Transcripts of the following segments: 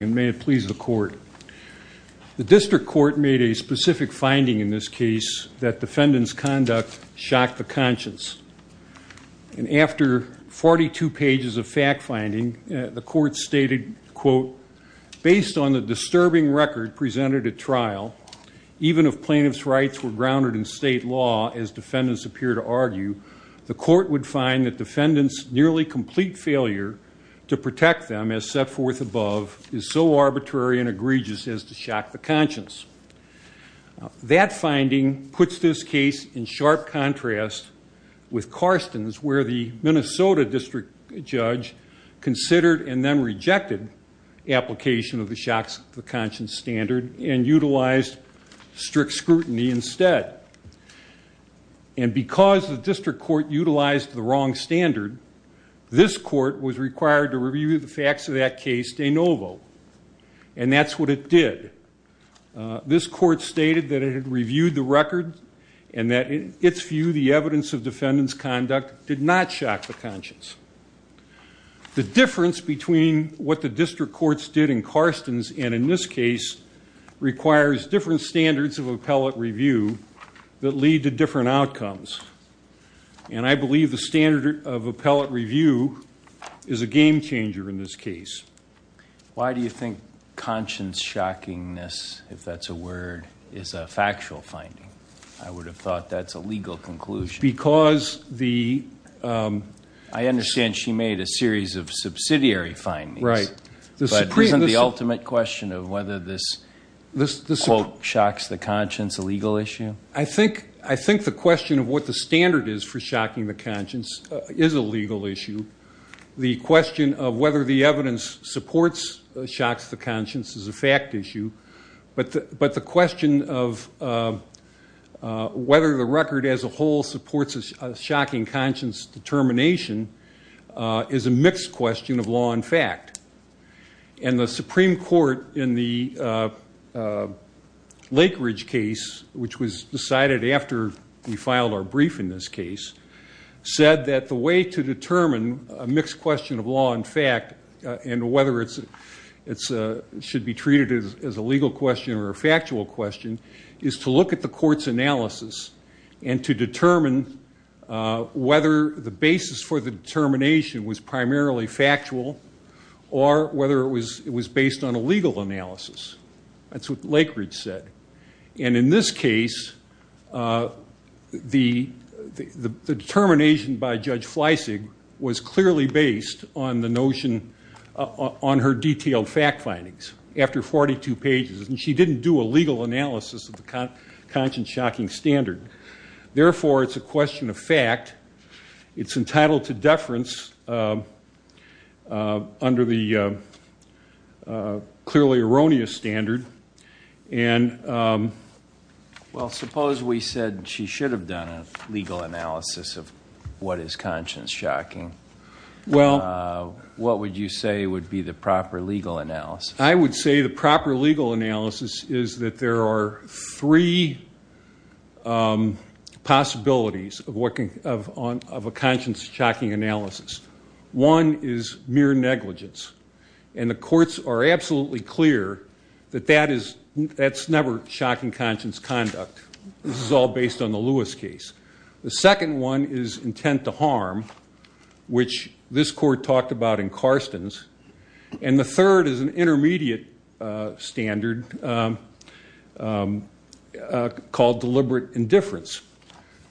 And may it please the court. The district court made a specific finding in this case that defendant's conduct shocked the conscience. And after 42 pages of fact-finding, the court stated, quote, Based on the disturbing record presented at trial, even if plaintiff's rights were grounded in state law, as defendants appear to argue, The court would find that defendant's nearly complete failure to protect them as set forth above is so arbitrary and egregious as to shock the conscience. That finding puts this case in sharp contrast with Carston's, where the Minnesota district judge considered and then rejected application of the shock to the conscience standard and utilized strict scrutiny instead. And because the district court utilized the wrong standard, this court was required to review the facts of that case de novo. And that's what it did. This court stated that it had reviewed the record and that, in its view, the evidence of defendant's conduct did not shock the conscience. The difference between what the district courts did in Carston's and in this case requires different standards of appellate review that lead to different outcomes. And I believe the standard of appellate review is a game changer in this case. Why do you think conscience shockiness, if that's a word, is a factual finding? I would have thought that's a legal conclusion. I understand she made a series of subsidiary findings, but isn't the ultimate question of whether this quote shocks the conscience a legal issue? I think the question of what the standard is for shocking the conscience is a legal issue. The question of whether the evidence supports shocks the conscience is a fact issue. But the question of whether the record as a whole supports a shocking conscience determination is a mixed question of law and fact. And the Supreme Court in the Lake Ridge case, which was decided after we filed our brief in this case, said that the way to determine a mixed question of law and fact and whether it should be treated as a legal question or a factual question is to look at the court's analysis and to determine whether the basis for the determination was primarily factual or whether it was based on a legal analysis. That's what Lake Ridge said. And in this case, the determination by Judge Fleisig was clearly based on the notion on her detailed fact findings after 42 pages. And she didn't do a legal analysis of the conscience shocking standard. Therefore, it's a question of fact. It's entitled to deference under the clearly erroneous standard. And- Well, suppose we said she should have done a legal analysis of what is conscience shocking. Well- What would you say would be the proper legal analysis? I would say the proper legal analysis is that there are three possibilities of a conscience shocking analysis. One is mere negligence. And the courts are absolutely clear that that's never shocking conscience conduct. This is all based on the Lewis case. The second one is intent to harm, which this court talked about in Karsten's. And the third is an intermediate standard called deliberate indifference.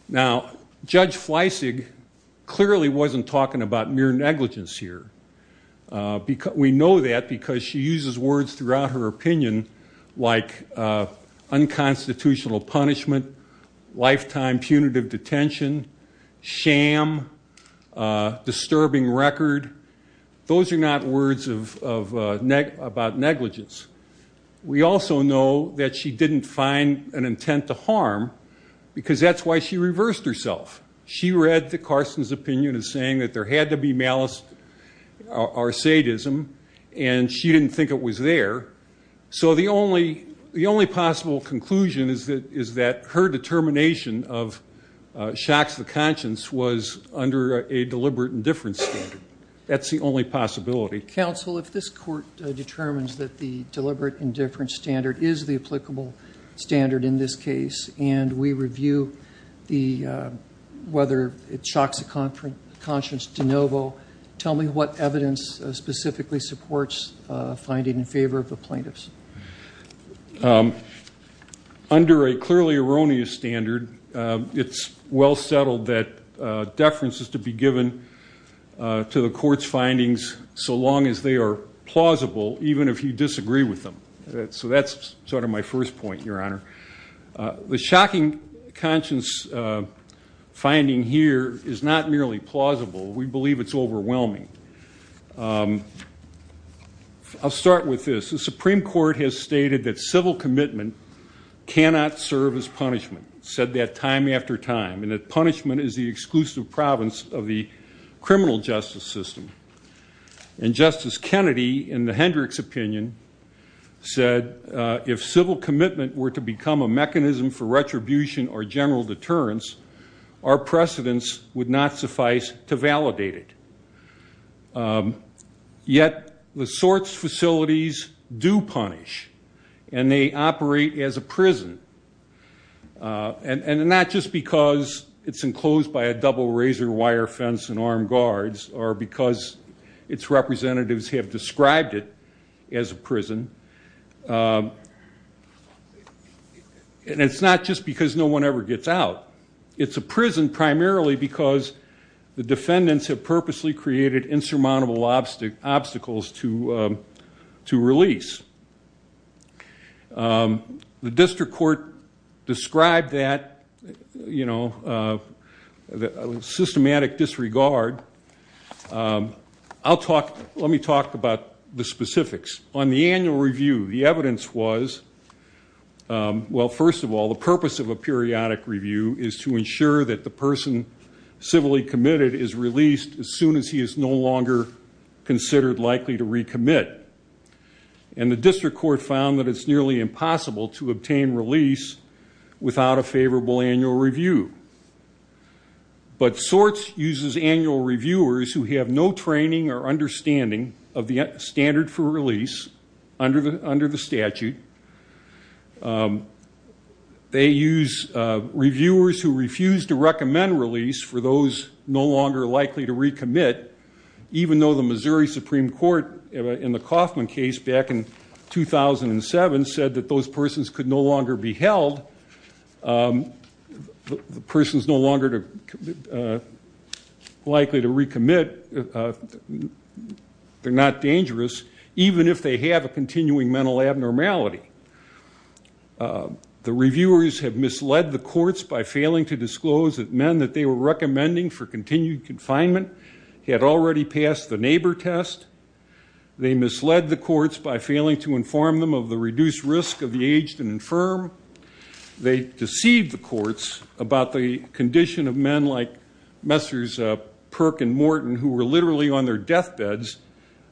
Now, Judge Fleisig clearly wasn't talking about mere negligence here. We know that because she uses words throughout her opinion like unconstitutional punishment, lifetime punitive detention, sham, disturbing record. Those are not words about negligence. We also know that she didn't find an intent to harm because that's why she reversed herself. She read Karsten's opinion as saying that there had to be malice or sadism, and she didn't think it was there. So the only possible conclusion is that her determination of shocks the conscience was under a deliberate indifference standard. That's the only possibility. Counsel, if this court determines that the deliberate indifference standard is the applicable standard in this case, and we review whether it shocks the conscience de novo, tell me what evidence specifically supports finding in favor of the plaintiffs. Under a clearly erroneous standard, it's well settled that deference is to be given to the court's findings so long as they are plausible, even if you disagree with them. So that's sort of my first point, Your Honor. The shocking conscience finding here is not merely plausible. We believe it's overwhelming. I'll start with this. The Supreme Court has stated that civil commitment cannot serve as punishment, said that time after time, and that punishment is the exclusive province of the criminal justice system. And Justice Kennedy, in the Hendricks opinion, said, if civil commitment were to become a mechanism for retribution or general deterrence, our precedents would not suffice to validate it. Yet the sorts facilities do punish, and they operate as a prison, and not just because it's enclosed by a double razor wire fence and armed guards, or because its representatives have described it as a prison, and it's not just because no one ever gets out. It's a prison primarily because the defendants have purposely created insurmountable obstacles to release. The district court described that systematic disregard. Let me talk about the specifics. On the annual review, the evidence was, well, first of all, the purpose of a periodic review is to ensure that the person civilly committed is released as soon as he is no longer considered likely to recommit. And the district court found that it's nearly impossible to obtain release without a favorable annual review. But sorts uses annual reviewers who have no training or understanding of the standard for release under the statute. They use reviewers who refuse to recommend release for those no longer likely to recommit, even though the Missouri Supreme Court, in the Kauffman case back in 2007, said that those persons could no longer be held. The person's no longer likely to recommit. They're not dangerous, even if they have a continuing mental abnormality. The reviewers have misled the courts by failing to disclose that men that they were recommending for continued confinement had already passed the neighbor test. They misled the courts by failing to inform them of the reduced risk of the aged and infirm. They deceived the courts about the condition of men like Messrs. Perk and Morton, who were literally on their deathbeds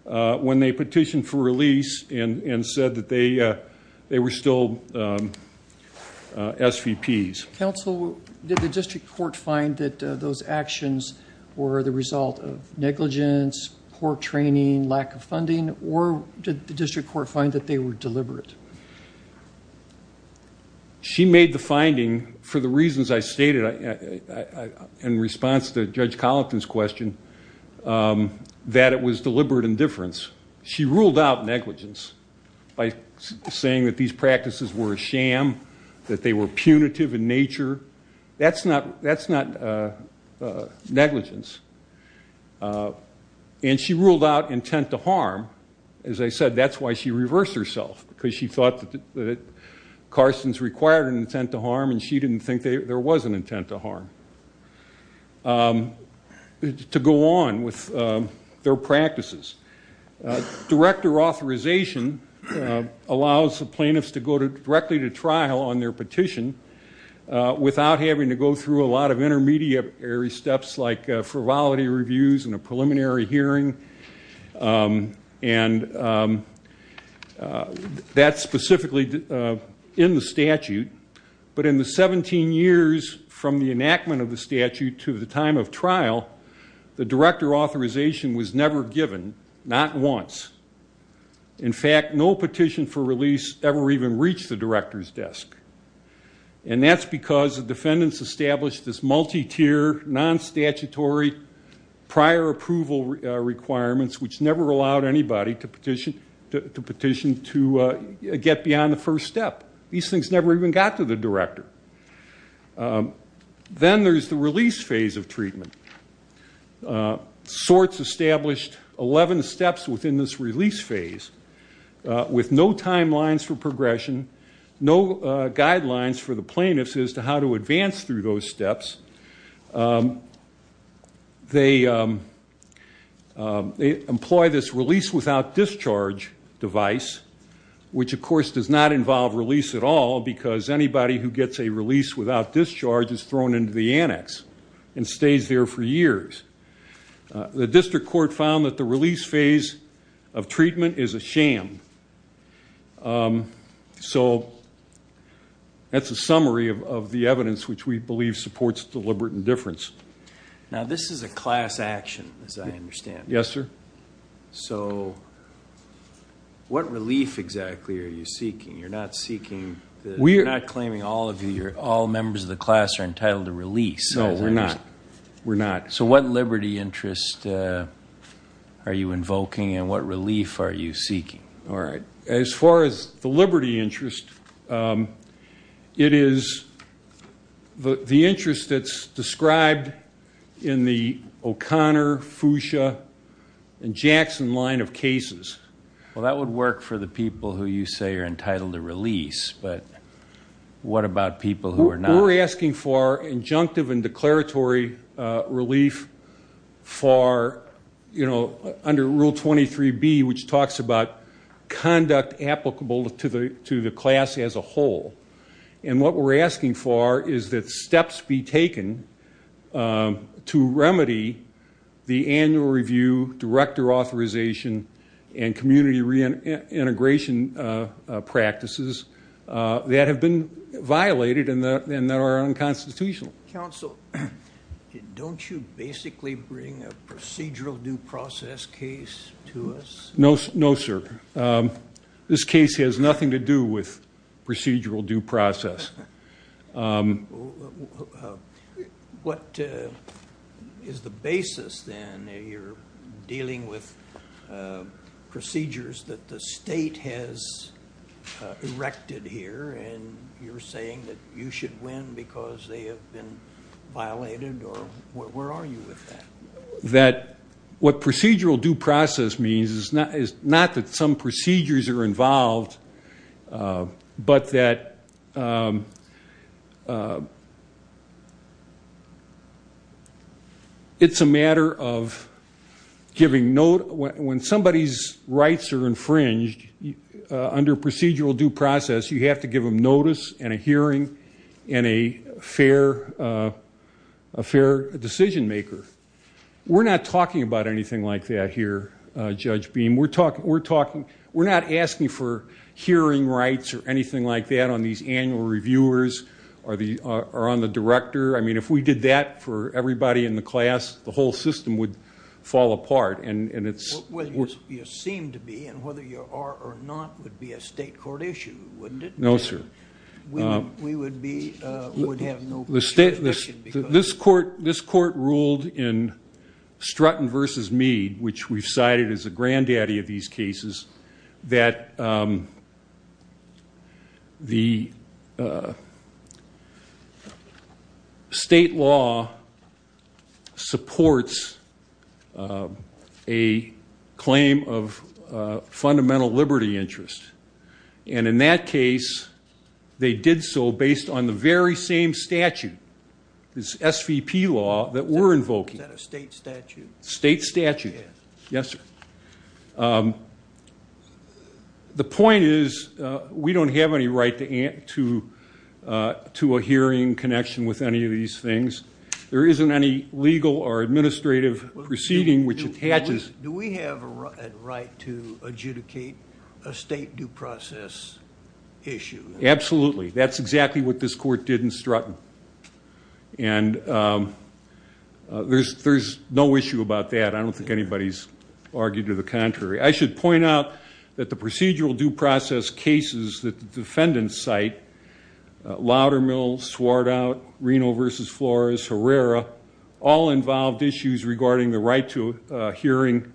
when they petitioned for release and said that they were still SVPs. Counsel, did the district court find that those actions were the result of negligence, poor training, lack of funding, or did the district court find that they were deliberate? She made the finding, for the reasons I stated in response to Judge Collington's question, that it was deliberate indifference. She ruled out negligence by saying that these practices were a sham, that they were punitive in nature. That's not negligence. And she ruled out intent to harm. As I said, that's why she reversed herself, because she thought that Carson's required an intent to harm and she didn't think there was an intent to harm. To go on with their practices. Director authorization allows the plaintiffs to go directly to trial on their petition without having to go through a lot of intermediary steps like frivolity reviews and a preliminary hearing. That's specifically in the statute. But in the 17 years from the enactment of the statute to the time of trial, the director authorization was never given, not once. In fact, no petition for release ever even reached the director's desk. And that's because the defendants established this multi-tier, non-statutory prior approval requirements, which never allowed anybody to petition to get beyond the first step. These things never even got to the director. Then there's the release phase of treatment. SORTS established 11 steps within this release phase with no timelines for progression, no guidelines for the plaintiffs as to how to advance through those steps. They employ this release without discharge device, which, of course, does not involve release at all, because anybody who gets a release without discharge is thrown into the annex and stays there for years. The district court found that the release phase of treatment is a sham. That's a summary of the evidence which we believe supports deliberate indifference. Now, this is a class action, as I understand. Yes, sir. So what relief exactly are you seeking? You're not claiming all members of the class are entitled to release. No, we're not. So what liberty interest are you invoking and what relief are you seeking? All right. As far as the liberty interest, it is the interest that's described in the O'Connor, Fuchsia, and Jackson line of cases. Well, that would work for the people who you say are entitled to release, but what about people who are not? What we're asking for is injunctive and declaratory relief under Rule 23B, which talks about conduct applicable to the class as a whole. What we're asking for is that steps be taken to remedy the annual review, director authorization, and community reintegration practices that have been violated and that are unconstitutional. Counsel, don't you basically bring a procedural due process case to us? No, sir. This case has nothing to do with procedural due process. What is the basis, then? You're dealing with procedures that the state has erected here, and you're saying that you should win because they have been violated, or where are you with that? What procedural due process means is not that some procedures are involved, but that it's a matter of giving note. When somebody's rights are infringed under procedural due process, you have to give them notice and a hearing and a fair decision maker. We're not talking about anything like that here, Judge Beam. We're not asking for hearing rights or anything like that on these annual reviewers or on the director. I mean, if we did that for everybody in the class, the whole system would fall apart. Well, you seem to be, and whether you are or not would be a state court issue, wouldn't it? No, sir. We would have no question. This court ruled in Strutton v. Meade, which we've cited as the granddaddy of these cases, that the state law supports a claim of fundamental liberty interest. And in that case, they did so based on the very same statute, this SVP law that we're invoking. Is that a state statute? State statute. Yes, sir. The point is we don't have any right to a hearing connection with any of these things. There isn't any legal or administrative proceeding which attaches. Do we have a right to adjudicate a state due process issue? Absolutely. That's exactly what this court did in Strutton. And there's no issue about that. I don't think anybody's argued to the contrary. I should point out that the procedural due process cases that the defendants cite, Loudermill, Swartout, Reno v. Flores, Herrera, all involved issues regarding the right to hearing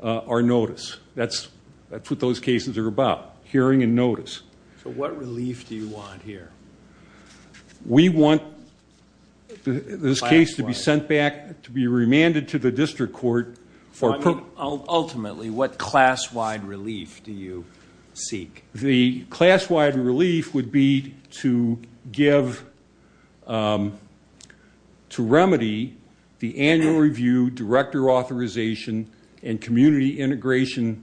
or notice. That's what those cases are about, hearing and notice. So what relief do you want here? We want this case to be sent back, to be remanded to the district court. Ultimately, what class-wide relief do you seek? The class-wide relief would be to give, to remedy the annual review, director authorization, and community integration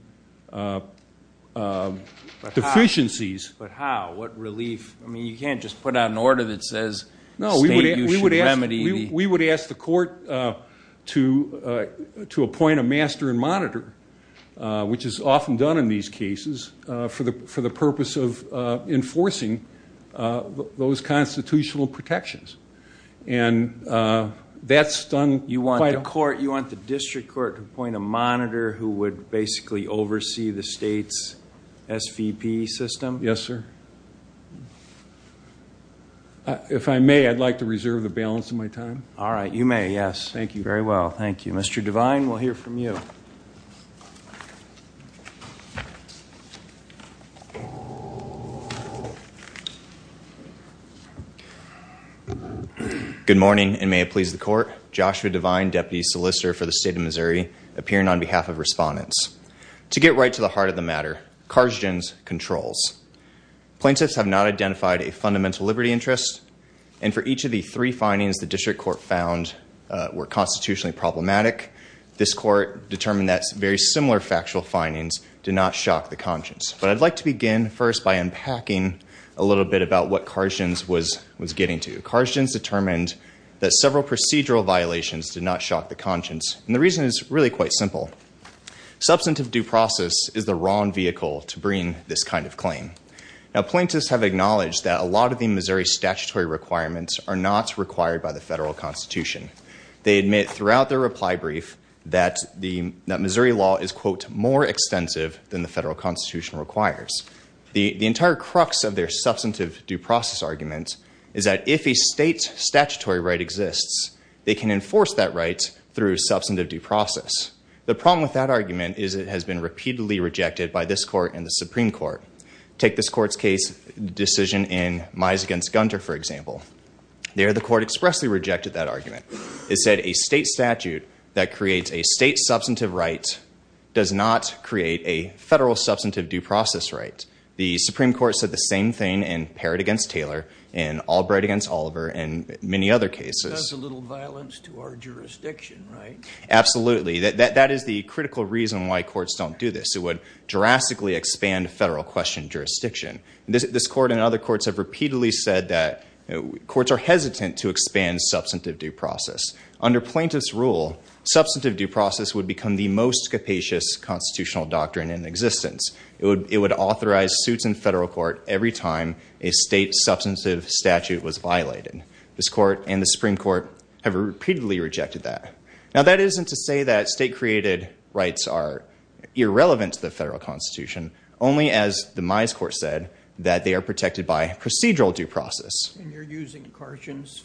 deficiencies. But how? What relief? I mean, you can't just put out an order that says the state you should remedy. No, we would ask the court to appoint a master and monitor, which is often done in these cases, for the purpose of enforcing those constitutional protections. And that's done by the court. You want the district court to appoint a monitor who would basically oversee the state's SVP system? Yes, sir. If I may, I'd like to reserve the balance of my time. All right, you may, yes. Thank you. Very well, thank you. Mr. Devine, we'll hear from you. Good morning, and may it please the court. Joshua Devine, deputy solicitor for the state of Missouri, appearing on behalf of respondents. To get right to the heart of the matter, Karzgen's controls. Plaintiffs have not identified a fundamental liberty interest, and for each of the three findings the district court found were constitutionally problematic, this court determined that very similar factual findings did not shock the conscience. But I'd like to begin first by unpacking a little bit about what Karzgen's was getting to. Karzgen's determined that several procedural violations did not shock the conscience, and the reason is really quite simple. Substantive due process is the wrong vehicle to bring this kind of claim. Now, plaintiffs have acknowledged that a lot of the Missouri statutory requirements are not required by the federal constitution. They admit throughout their reply brief that Missouri law is, quote, more extensive than the federal constitution requires. The entire crux of their substantive due process argument is that if a state's statutory right exists, they can enforce that right through substantive due process. The problem with that argument is it has been repeatedly rejected by this court and the Supreme Court. Take this court's case decision in Mize v. Gunter, for example. There the court expressly rejected that argument. It said a state statute that creates a state substantive right does not create a federal substantive due process right. The Supreme Court said the same thing in Parrott v. Taylor and Albright v. Oliver and many other cases. That's a little violence to our jurisdiction, right? Absolutely. That is the critical reason why courts don't do this. It would drastically expand federal question jurisdiction. This court and other courts have repeatedly said that courts are hesitant to expand substantive due process. Under plaintiffs' rule, substantive due process would become the most capacious constitutional doctrine in existence. It would authorize suits in federal court every time a state substantive statute was violated. This court and the Supreme Court have repeatedly rejected that. Now, that isn't to say that state-created rights are irrelevant to the federal constitution. Only, as the Mize court said, that they are protected by procedural due process. And you're using Carson's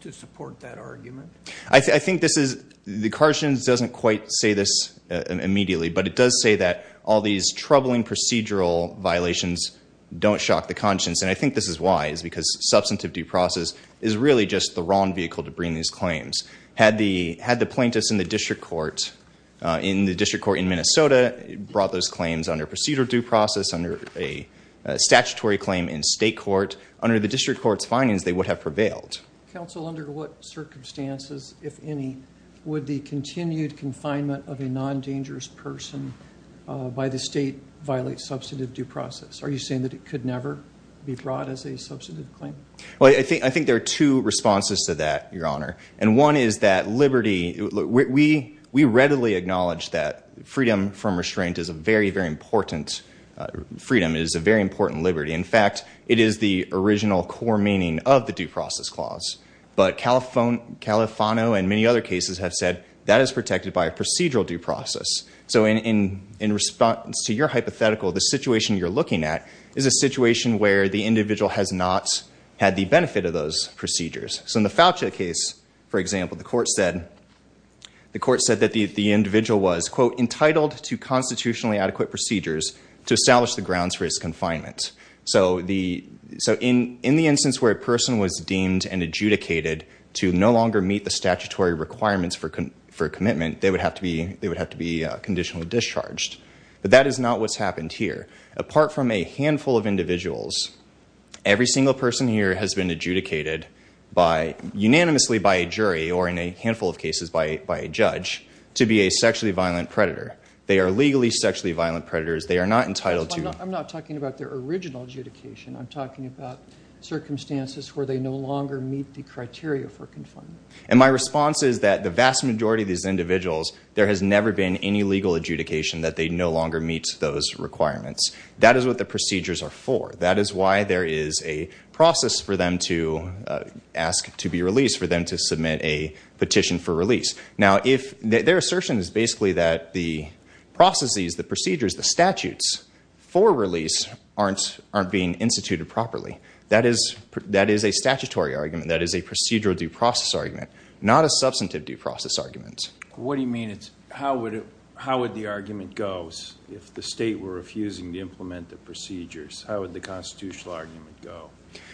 to support that argument? I think this is—the Carson's doesn't quite say this immediately, but it does say that all these troubling procedural violations don't shock the conscience. And I think this is wise because substantive due process is really just the wrong vehicle to bring these claims. Had the plaintiffs in the district court in Minnesota brought those claims under procedural due process, under a statutory claim in state court, under the district court's findings, they would have prevailed. Counsel, under what circumstances, if any, would the continued confinement of a non-dangerous person by the state violate substantive due process? Are you saying that it could never be brought as a substantive claim? Well, I think there are two responses to that, Your Honor. And one is that liberty—we readily acknowledge that freedom from restraint is a very, very important—freedom is a very important liberty. In fact, it is the original core meaning of the due process clause. But Califano and many other cases have said that is protected by a procedural due process. So in response to your hypothetical, the situation you're looking at is a situation where the individual has not had the benefit of those procedures. So in the Fauci case, for example, the court said that the individual was, quote, entitled to constitutionally adequate procedures to establish the grounds for his confinement. So in the instance where a person was deemed and adjudicated to no longer meet the statutory requirements for commitment, they would have to be conditionally discharged. But that is not what's happened here. Apart from a handful of individuals, every single person here has been adjudicated by—unanimously by a jury or in a handful of cases by a judge—to be a sexually violent predator. They are legally sexually violent predators. They are not entitled to— I'm not talking about their original adjudication. I'm talking about circumstances where they no longer meet the criteria for confinement. And my response is that the vast majority of these individuals, there has never been any legal adjudication that they no longer meet those requirements. That is what the procedures are for. That is why there is a process for them to ask to be released, for them to submit a petition for release. Now, their assertion is basically that the processes, the procedures, the statutes for release aren't being instituted properly. That is a statutory argument. That is a procedural due process argument, not a substantive due process argument. What do you mean? How would the argument go if the state were refusing to implement the procedures? How would the constitutional argument go?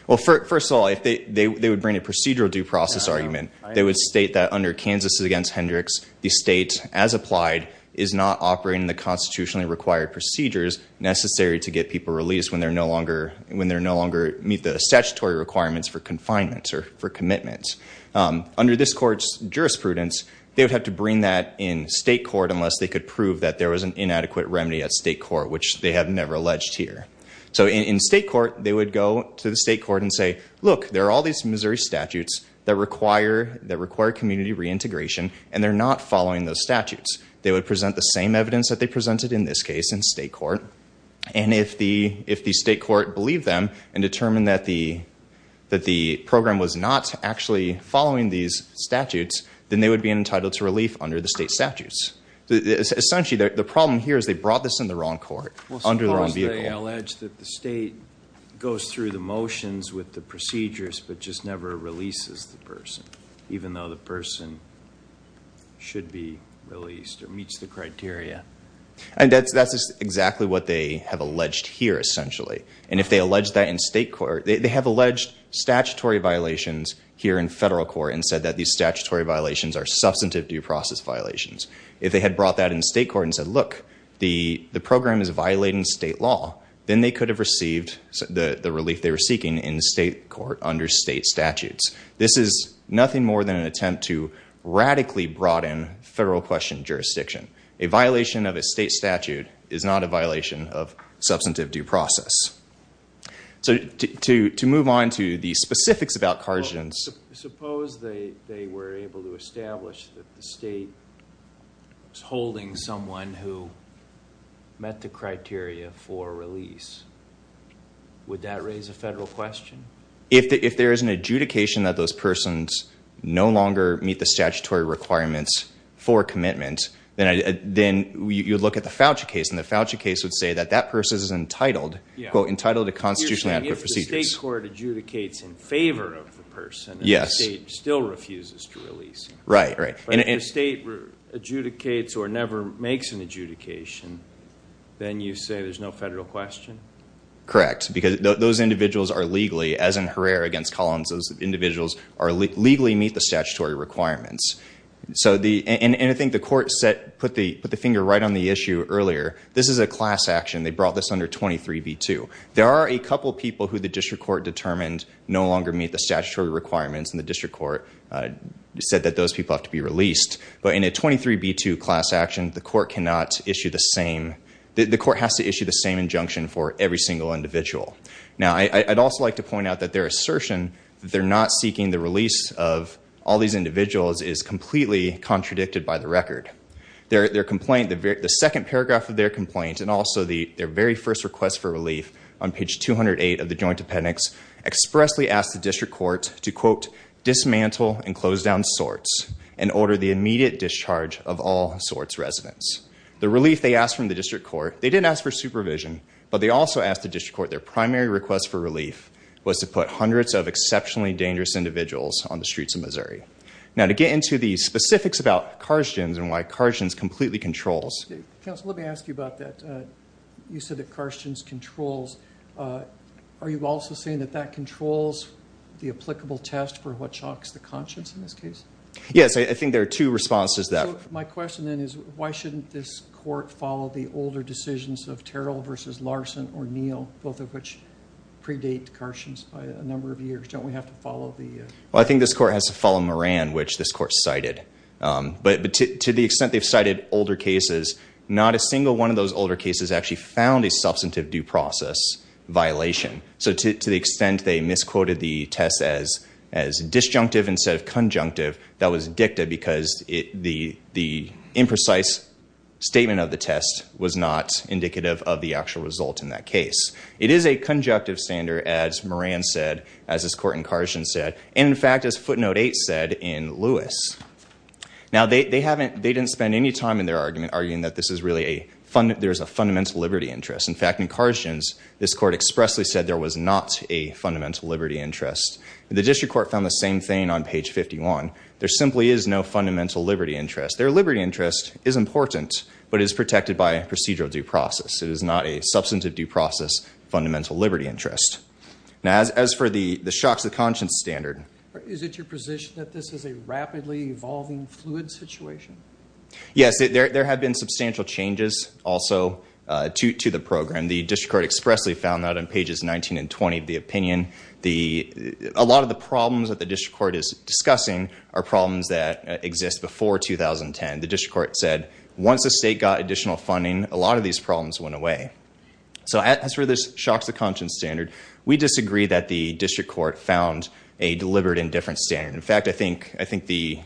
Well, first of all, they would bring a procedural due process argument. They would state that under Kansas v. Hendricks, the state, as applied, is not operating the constitutionally required procedures necessary to get people released when they no longer meet the statutory requirements for confinement or for commitment. Under this court's jurisprudence, they would have to bring that in state court unless they could prove that there was an inadequate remedy at state court, which they have never alleged here. So in state court, they would go to the state court and say, look, there are all these Missouri statutes that require community reintegration, and they're not following those statutes. They would present the same evidence that they presented in this case in state court, and if the state court believed them and determined that the program was not actually following these statutes, then they would be entitled to relief under the state statutes. Essentially, the problem here is they brought this in the wrong court, under the wrong vehicle. Unless they allege that the state goes through the motions with the procedures but just never releases the person, even though the person should be released or meets the criteria. And that's exactly what they have alleged here, essentially. And if they allege that in state court, they have alleged statutory violations here in federal court and said that these statutory violations are substantive due process violations. If they had brought that in state court and said, look, the program is violating state law, then they could have received the relief they were seeking in state court under state statutes. This is nothing more than an attempt to radically broaden federal question jurisdiction. A violation of a state statute is not a violation of substantive due process. So to move on to the specifics about Karjans. Suppose they were able to establish that the state was holding someone who met the criteria for release. Would that raise a federal question? If there is an adjudication that those persons no longer meet the statutory requirements for commitment, then you would look at the Fauci case. And the Fauci case would say that that person is entitled, quote, entitled to constitutionally adequate procedures. You're saying if the state court adjudicates in favor of the person, the state still refuses to release him. Right, right. But if the state adjudicates or never makes an adjudication, then you say there's no federal question? Correct. Because those individuals are legally, as in Herrera against Collins, those individuals legally meet the statutory requirements. And I think the court put the finger right on the issue earlier. This is a class action. They brought this under 23b2. There are a couple people who the district court determined no longer meet the statutory requirements, and the district court said that those people have to be released. But in a 23b2 class action, the court cannot issue the same, the court has to issue the same injunction for every single individual. Now, I'd also like to point out that their assertion that they're not seeking the release of all these individuals is completely contradicted by the record. Their complaint, the second paragraph of their complaint, and also their very first request for relief on page 208 of the joint appendix, expressly asked the district court to, quote, dismantle and close down sorts and order the immediate discharge of all sorts residents. The relief they asked from the district court, they didn't ask for supervision, but they also asked the district court, their primary request for relief was to put hundreds of exceptionally dangerous individuals on the streets of Missouri. Now, to get into the specifics about Karstjens and why Karstjens completely controls. Counsel, let me ask you about that. You said that Karstjens controls. Are you also saying that that controls the applicable test for what shocks the conscience in this case? Yes, I think there are two responses there. My question, then, is why shouldn't this court follow the older decisions of Terrell versus Larson or Neal, both of which predate Karstjens by a number of years? Well, I think this court has to follow Moran, which this court cited. But to the extent they've cited older cases, not a single one of those older cases actually found a substantive due process violation. So to the extent they misquoted the test as disjunctive instead of conjunctive, that was dicta because the imprecise statement of the test was not indicative of the actual result in that case. It is a conjunctive standard, as Moran said, as this court in Karstjens said, and, in fact, as Footnote 8 said in Lewis. Now, they didn't spend any time in their argument arguing that there's a fundamental liberty interest. In fact, in Karstjens, this court expressly said there was not a fundamental liberty interest. The district court found the same thing on page 51. There simply is no fundamental liberty interest. Their liberty interest is important but is protected by a procedural due process. It is not a substantive due process fundamental liberty interest. Now, as for the shocks of conscience standard. Is it your position that this is a rapidly evolving fluid situation? Yes. There have been substantial changes also to the program. The district court expressly found that on pages 19 and 20 of the opinion. A lot of the problems that the district court is discussing are problems that exist before 2010. The district court said once the state got additional funding, a lot of these problems went away. So as for this shocks of conscience standard, we disagree that the district court found a deliberate indifference standard. In fact, I think the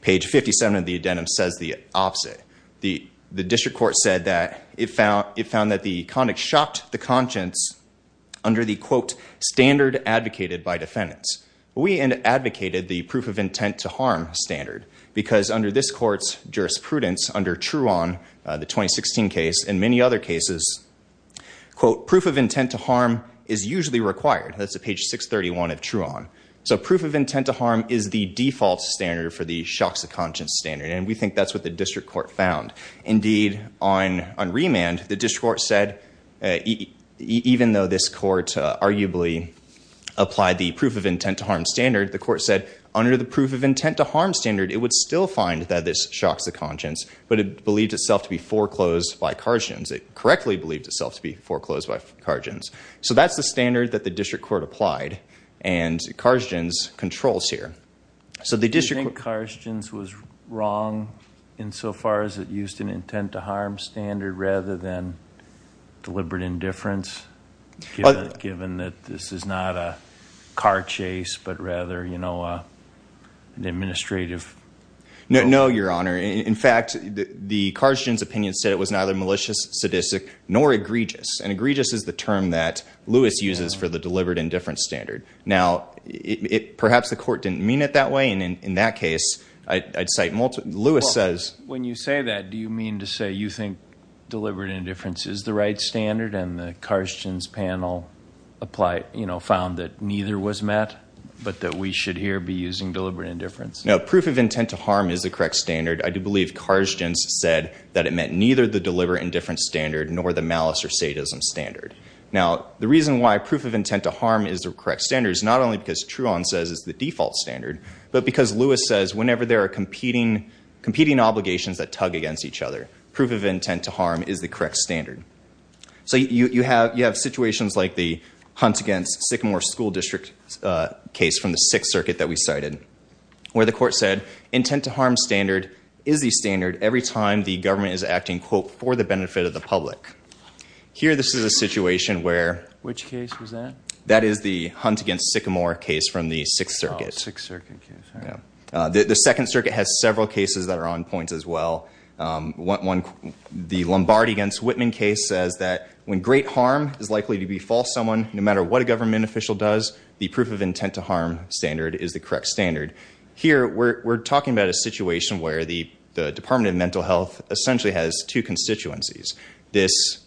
page 57 of the addendum says the opposite. The district court said that it found that the conduct shocked the conscience under the, quote, standard advocated by defendants. We advocated the proof of intent to harm standard. Because under this court's jurisprudence, under Truon, the 2016 case, and many other cases, quote, proof of intent to harm is usually required. That's at page 631 of Truon. So proof of intent to harm is the default standard for the shocks of conscience standard. And we think that's what the district court found. Indeed, on remand, the district court said, even though this court arguably applied the proof of intent to harm standard, the court said under the proof of intent to harm standard, it would still find that this shocks the conscience. But it believed itself to be foreclosed by Karjins. It correctly believed itself to be foreclosed by Karjins. So that's the standard that the district court applied. And Karjins controls here. Do you think Karjins was wrong insofar as it used an intent to harm standard rather than deliberate indifference, given that this is not a car chase but rather, you know, an administrative? No, Your Honor. In fact, the Karjins opinion said it was neither malicious, sadistic, nor egregious. And egregious is the term that Lewis uses for the deliberate indifference standard. Now, perhaps the court didn't mean it that way. And in that case, I'd cite multiple. Lewis says. When you say that, do you mean to say you think deliberate indifference is the right standard? And the Karjins panel, you know, found that neither was met but that we should here be using deliberate indifference? No. Proof of intent to harm is the correct standard. I do believe Karjins said that it meant neither the deliberate indifference standard nor the malice or sadism standard. Now, the reason why proof of intent to harm is the correct standard is not only because Truon says it's the default standard but because Lewis says whenever there are competing obligations that tug against each other, proof of intent to harm is the correct standard. So you have situations like the Hunts against Sycamore School District case from the Sixth Circuit that we cited, where the court said intent to harm standard is the standard every time the government is acting, quote, for the benefit of the public. Here, this is a situation where. Which case was that? That is the Hunts against Sycamore case from the Sixth Circuit. Oh, Sixth Circuit case. Yeah. The Second Circuit has several cases that are on point as well. One, the Lombardi against Whitman case says that when great harm is likely to befall someone, no matter what a government official does, the proof of intent to harm standard is the correct standard. Here, we're talking about a situation where the Department of Mental Health essentially has two constituencies. This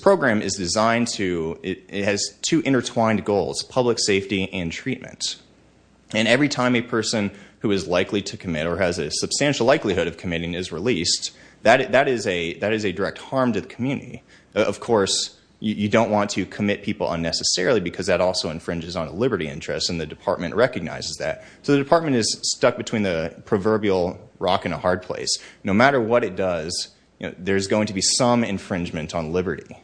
program is designed to. It has two intertwined goals, public safety and treatment. And every time a person who is likely to commit or has a substantial likelihood of committing is released, that is a direct harm to the community. Of course, you don't want to commit people unnecessarily because that also infringes on liberty interests, and the department recognizes that. So the department is stuck between the proverbial rock and a hard place. No matter what it does, there's going to be some infringement on liberty.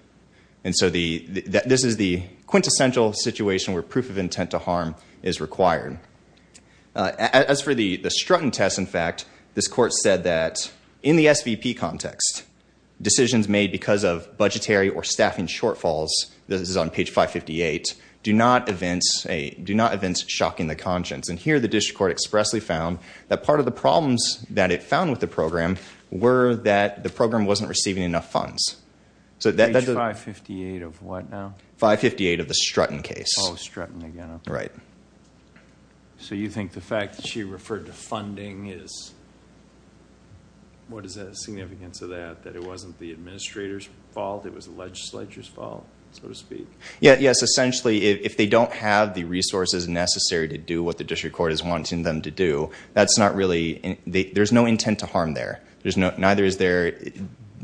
And so this is the quintessential situation where proof of intent to harm is required. As for the Strutton test, in fact, this court said that in the SVP context, decisions made because of budgetary or staffing shortfalls, this is on page 558, do not evince shocking the conscience. And here, the district court expressly found that part of the problems that it found with the program were that the program wasn't receiving enough funds. Page 558 of what now? 558 of the Strutton case. Oh, Strutton again. Right. So you think the fact that she referred to funding is, what is the significance of that, that it wasn't the administrator's fault, it was the legislature's fault, so to speak? Yes, essentially, if they don't have the resources necessary to do what the district court is wanting them to do, that's not really, there's no intent to harm there. Neither is there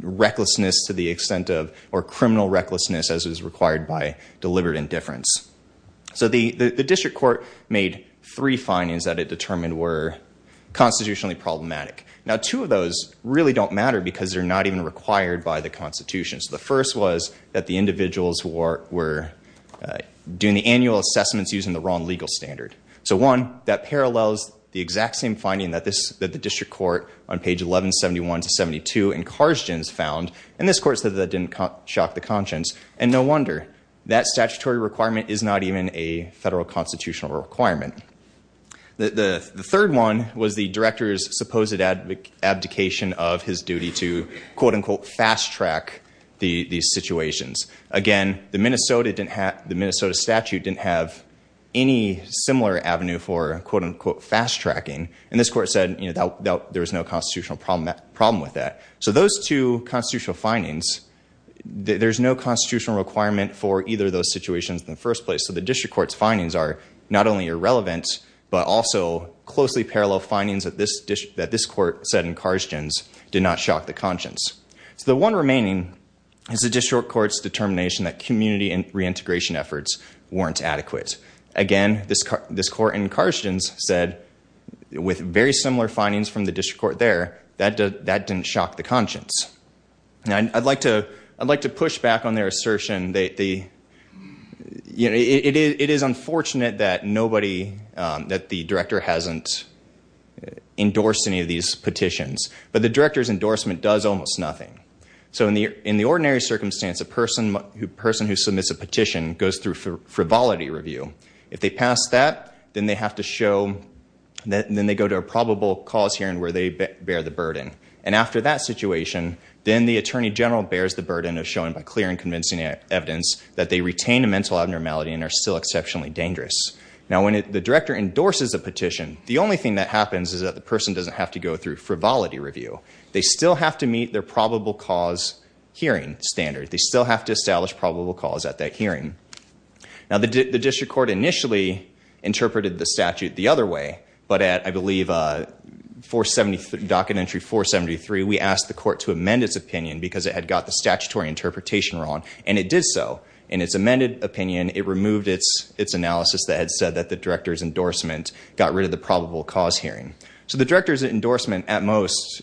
recklessness to the extent of, or criminal recklessness as is required by deliberate indifference. So the district court made three findings that it determined were constitutionally problematic. Now, two of those really don't matter because they're not even required by the Constitution. So the first was that the individuals were doing the annual assessments using the wrong legal standard. So one, that parallels the exact same finding that the district court on page 1171-72 in Karzgin's found, and this court said that didn't shock the conscience. And no wonder. That statutory requirement is not even a federal constitutional requirement. The third one was the director's supposed abdication of his duty to, quote-unquote, fast-track these situations. Again, the Minnesota statute didn't have any similar avenue for, quote-unquote, fast-tracking, and this court said there was no constitutional problem with that. So those two constitutional findings, there's no constitutional requirement for either of those situations in the first place. So the district court's findings are not only irrelevant, but also closely parallel findings that this court said in Karzgin's did not shock the conscience. So the one remaining is the district court's determination that community reintegration efforts weren't adequate. Again, this court in Karzgin's said, with very similar findings from the district court there, that didn't shock the conscience. I'd like to push back on their assertion. It is unfortunate that the director hasn't endorsed any of these petitions, but the director's endorsement does almost nothing. So in the ordinary circumstance, a person who submits a petition goes through frivolity review. If they pass that, then they go to a probable cause hearing where they bear the burden. And after that situation, then the attorney general bears the burden of showing by clear and convincing evidence that they retain a mental abnormality and are still exceptionally dangerous. Now, when the director endorses a petition, the only thing that happens is that the person doesn't have to go through frivolity review. They still have to meet their probable cause hearing standard. They still have to establish probable cause at that hearing. Now, the district court initially interpreted the statute the other way, but at, I believe, docket entry 473, we asked the court to amend its opinion because it had got the statutory interpretation wrong, and it did so. In its amended opinion, it removed its analysis that had said that the director's endorsement got rid of the probable cause hearing. So the director's endorsement, at most,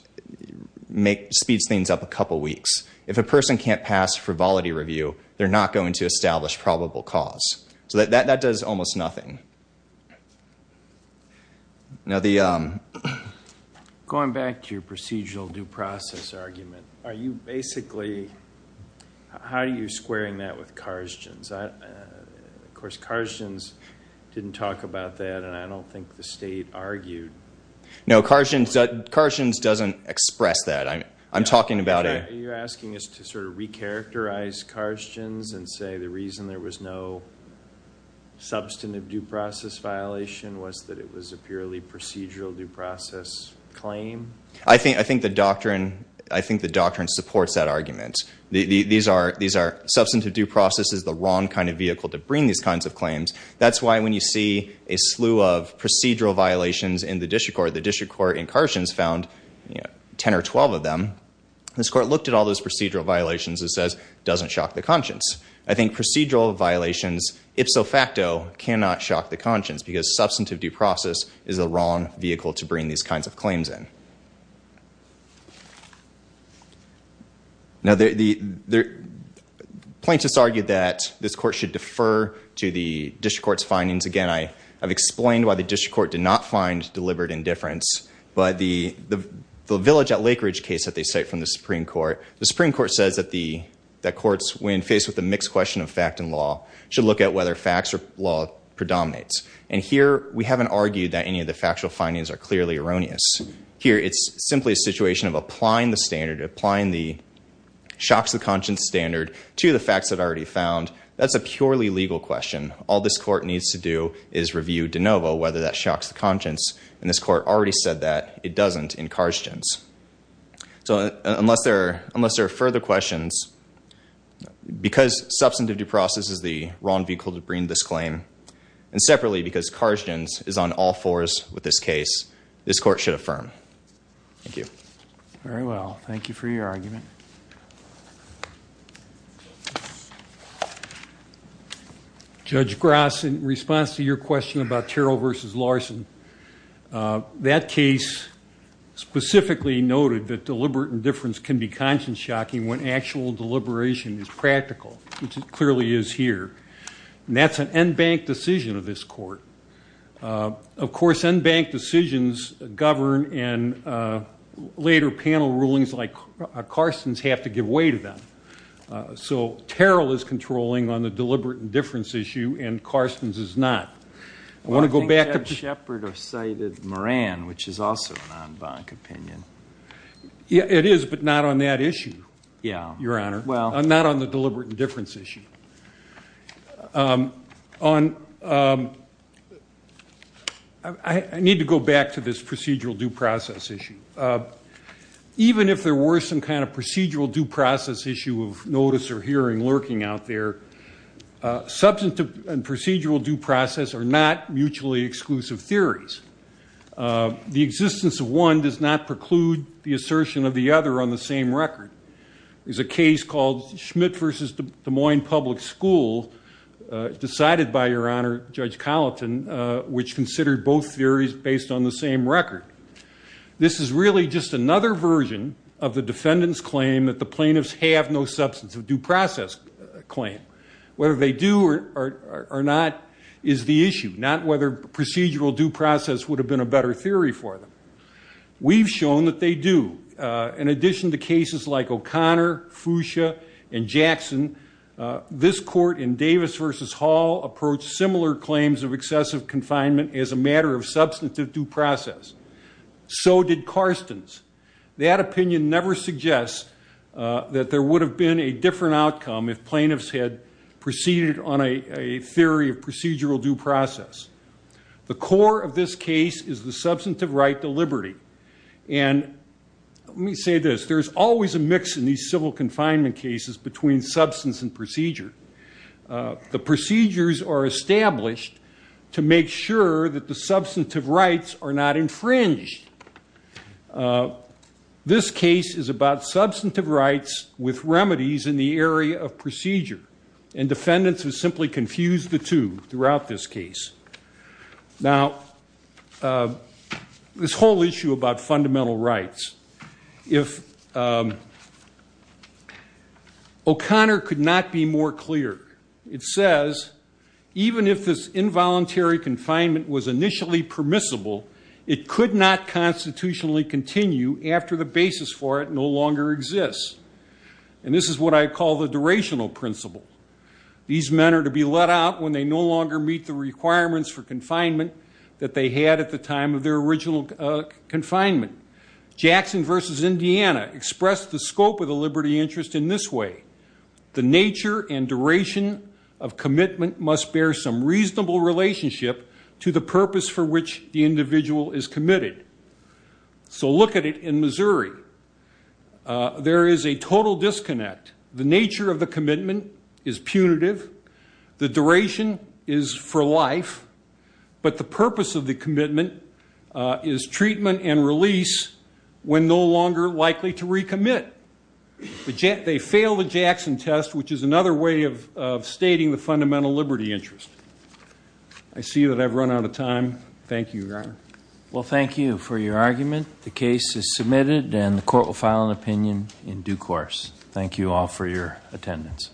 speeds things up a couple weeks. If a person can't pass frivolity review, they're not going to establish probable cause. So that does almost nothing. Going back to your procedural due process argument, are you basically, how are you squaring that with Karzgen's? Of course, Karzgen's didn't talk about that, and I don't think the state argued. No, Karzgen's doesn't express that. You're asking us to sort of recharacterize Karzgen's and say the reason there was no substantive due process violation was that it was a purely procedural due process claim? I think the doctrine supports that argument. Substantive due process is the wrong kind of vehicle to bring these kinds of claims. That's why when you see a slew of procedural violations in the district court, the district court in Karzgen's found 10 or 12 of them, this court looked at all those procedural violations and says, doesn't shock the conscience. I think procedural violations, ipso facto, cannot shock the conscience because substantive due process is the wrong vehicle to bring these kinds of claims in. Now, plaintiffs argued that this court should defer to the district court's findings. Again, I've explained why the district court did not find deliberate indifference, but the Village at Lake Ridge case that they cite from the Supreme Court, the Supreme Court says that courts, when faced with a mixed question of fact and law, should look at whether facts or law predominates. And here, we haven't argued that any of the factual findings are clearly erroneous. Here, it's simply a situation of applying the standard, applying the shock to the conscience standard to the facts that are already found. That's a purely legal question. All this court needs to do is review de novo whether that shocks the conscience, and this court already said that it doesn't in Karzgen's. So unless there are further questions, because substantive due process is the wrong vehicle to bring this claim, and separately because Karzgen's is on all fours with this case, this court should affirm. Thank you. Very well. Thank you for your argument. Judge Gross, in response to your question about Terrell v. Larson, that case specifically noted that deliberate indifference can be conscience shocking when actual deliberation is practical, which it clearly is here. And that's an en banc decision of this court. Of course, en banc decisions govern, and later panel rulings like Karzgen's have to give way to them. So Terrell is controlling on the deliberate indifference issue, and Karzgen's is not. I want to go back to the- I think Ed Shepard have cited Moran, which is also an en banc opinion. It is, but not on that issue, Your Honor. Well- Not on the deliberate indifference issue. On- I need to go back to this procedural due process issue. Even if there were some kind of procedural due process issue of notice or hearing lurking out there, substantive and procedural due process are not mutually exclusive theories. The existence of one does not preclude the assertion of the other on the same record. There's a case called Schmidt v. Des Moines Public School decided by, Your Honor, Judge Colleton, which considered both theories based on the same record. This is really just another version of the defendant's claim that the plaintiffs have no substantive due process claim. Whether they do or not is the issue, not whether procedural due process would have been a better theory for them. We've shown that they do. In addition to cases like O'Connor, Fuchsia, and Jackson, this court in Davis v. Hall approached similar claims of excessive confinement as a matter of substantive due process. So did Karstens. That opinion never suggests that there would have been a different outcome if plaintiffs had proceeded on a theory of procedural due process. Let me say this. There's always a mix in these civil confinement cases between substance and procedure. The procedures are established to make sure that the substantive rights are not infringed. This case is about substantive rights with remedies in the area of procedure, and defendants have simply confused the two throughout this case. Now, this whole issue about fundamental rights. If O'Connor could not be more clear. It says, even if this involuntary confinement was initially permissible, it could not constitutionally continue after the basis for it no longer exists. And this is what I call the durational principle. These men are to be let out when they no longer meet the requirements for confinement that they had at the time of their original confinement. Jackson v. Indiana expressed the scope of the liberty interest in this way. The nature and duration of commitment must bear some reasonable relationship to the purpose for which the individual is committed. So look at it in Missouri. There is a total disconnect. The nature of the commitment is punitive. The duration is for life. But the purpose of the commitment is treatment and release when no longer likely to recommit. They fail the Jackson test, which is another way of stating the fundamental liberty interest. I see that I've run out of time. Thank you, Your Honor. Well, thank you for your argument. The case is submitted, and the court will file an opinion in due course. Thank you all for your attendance.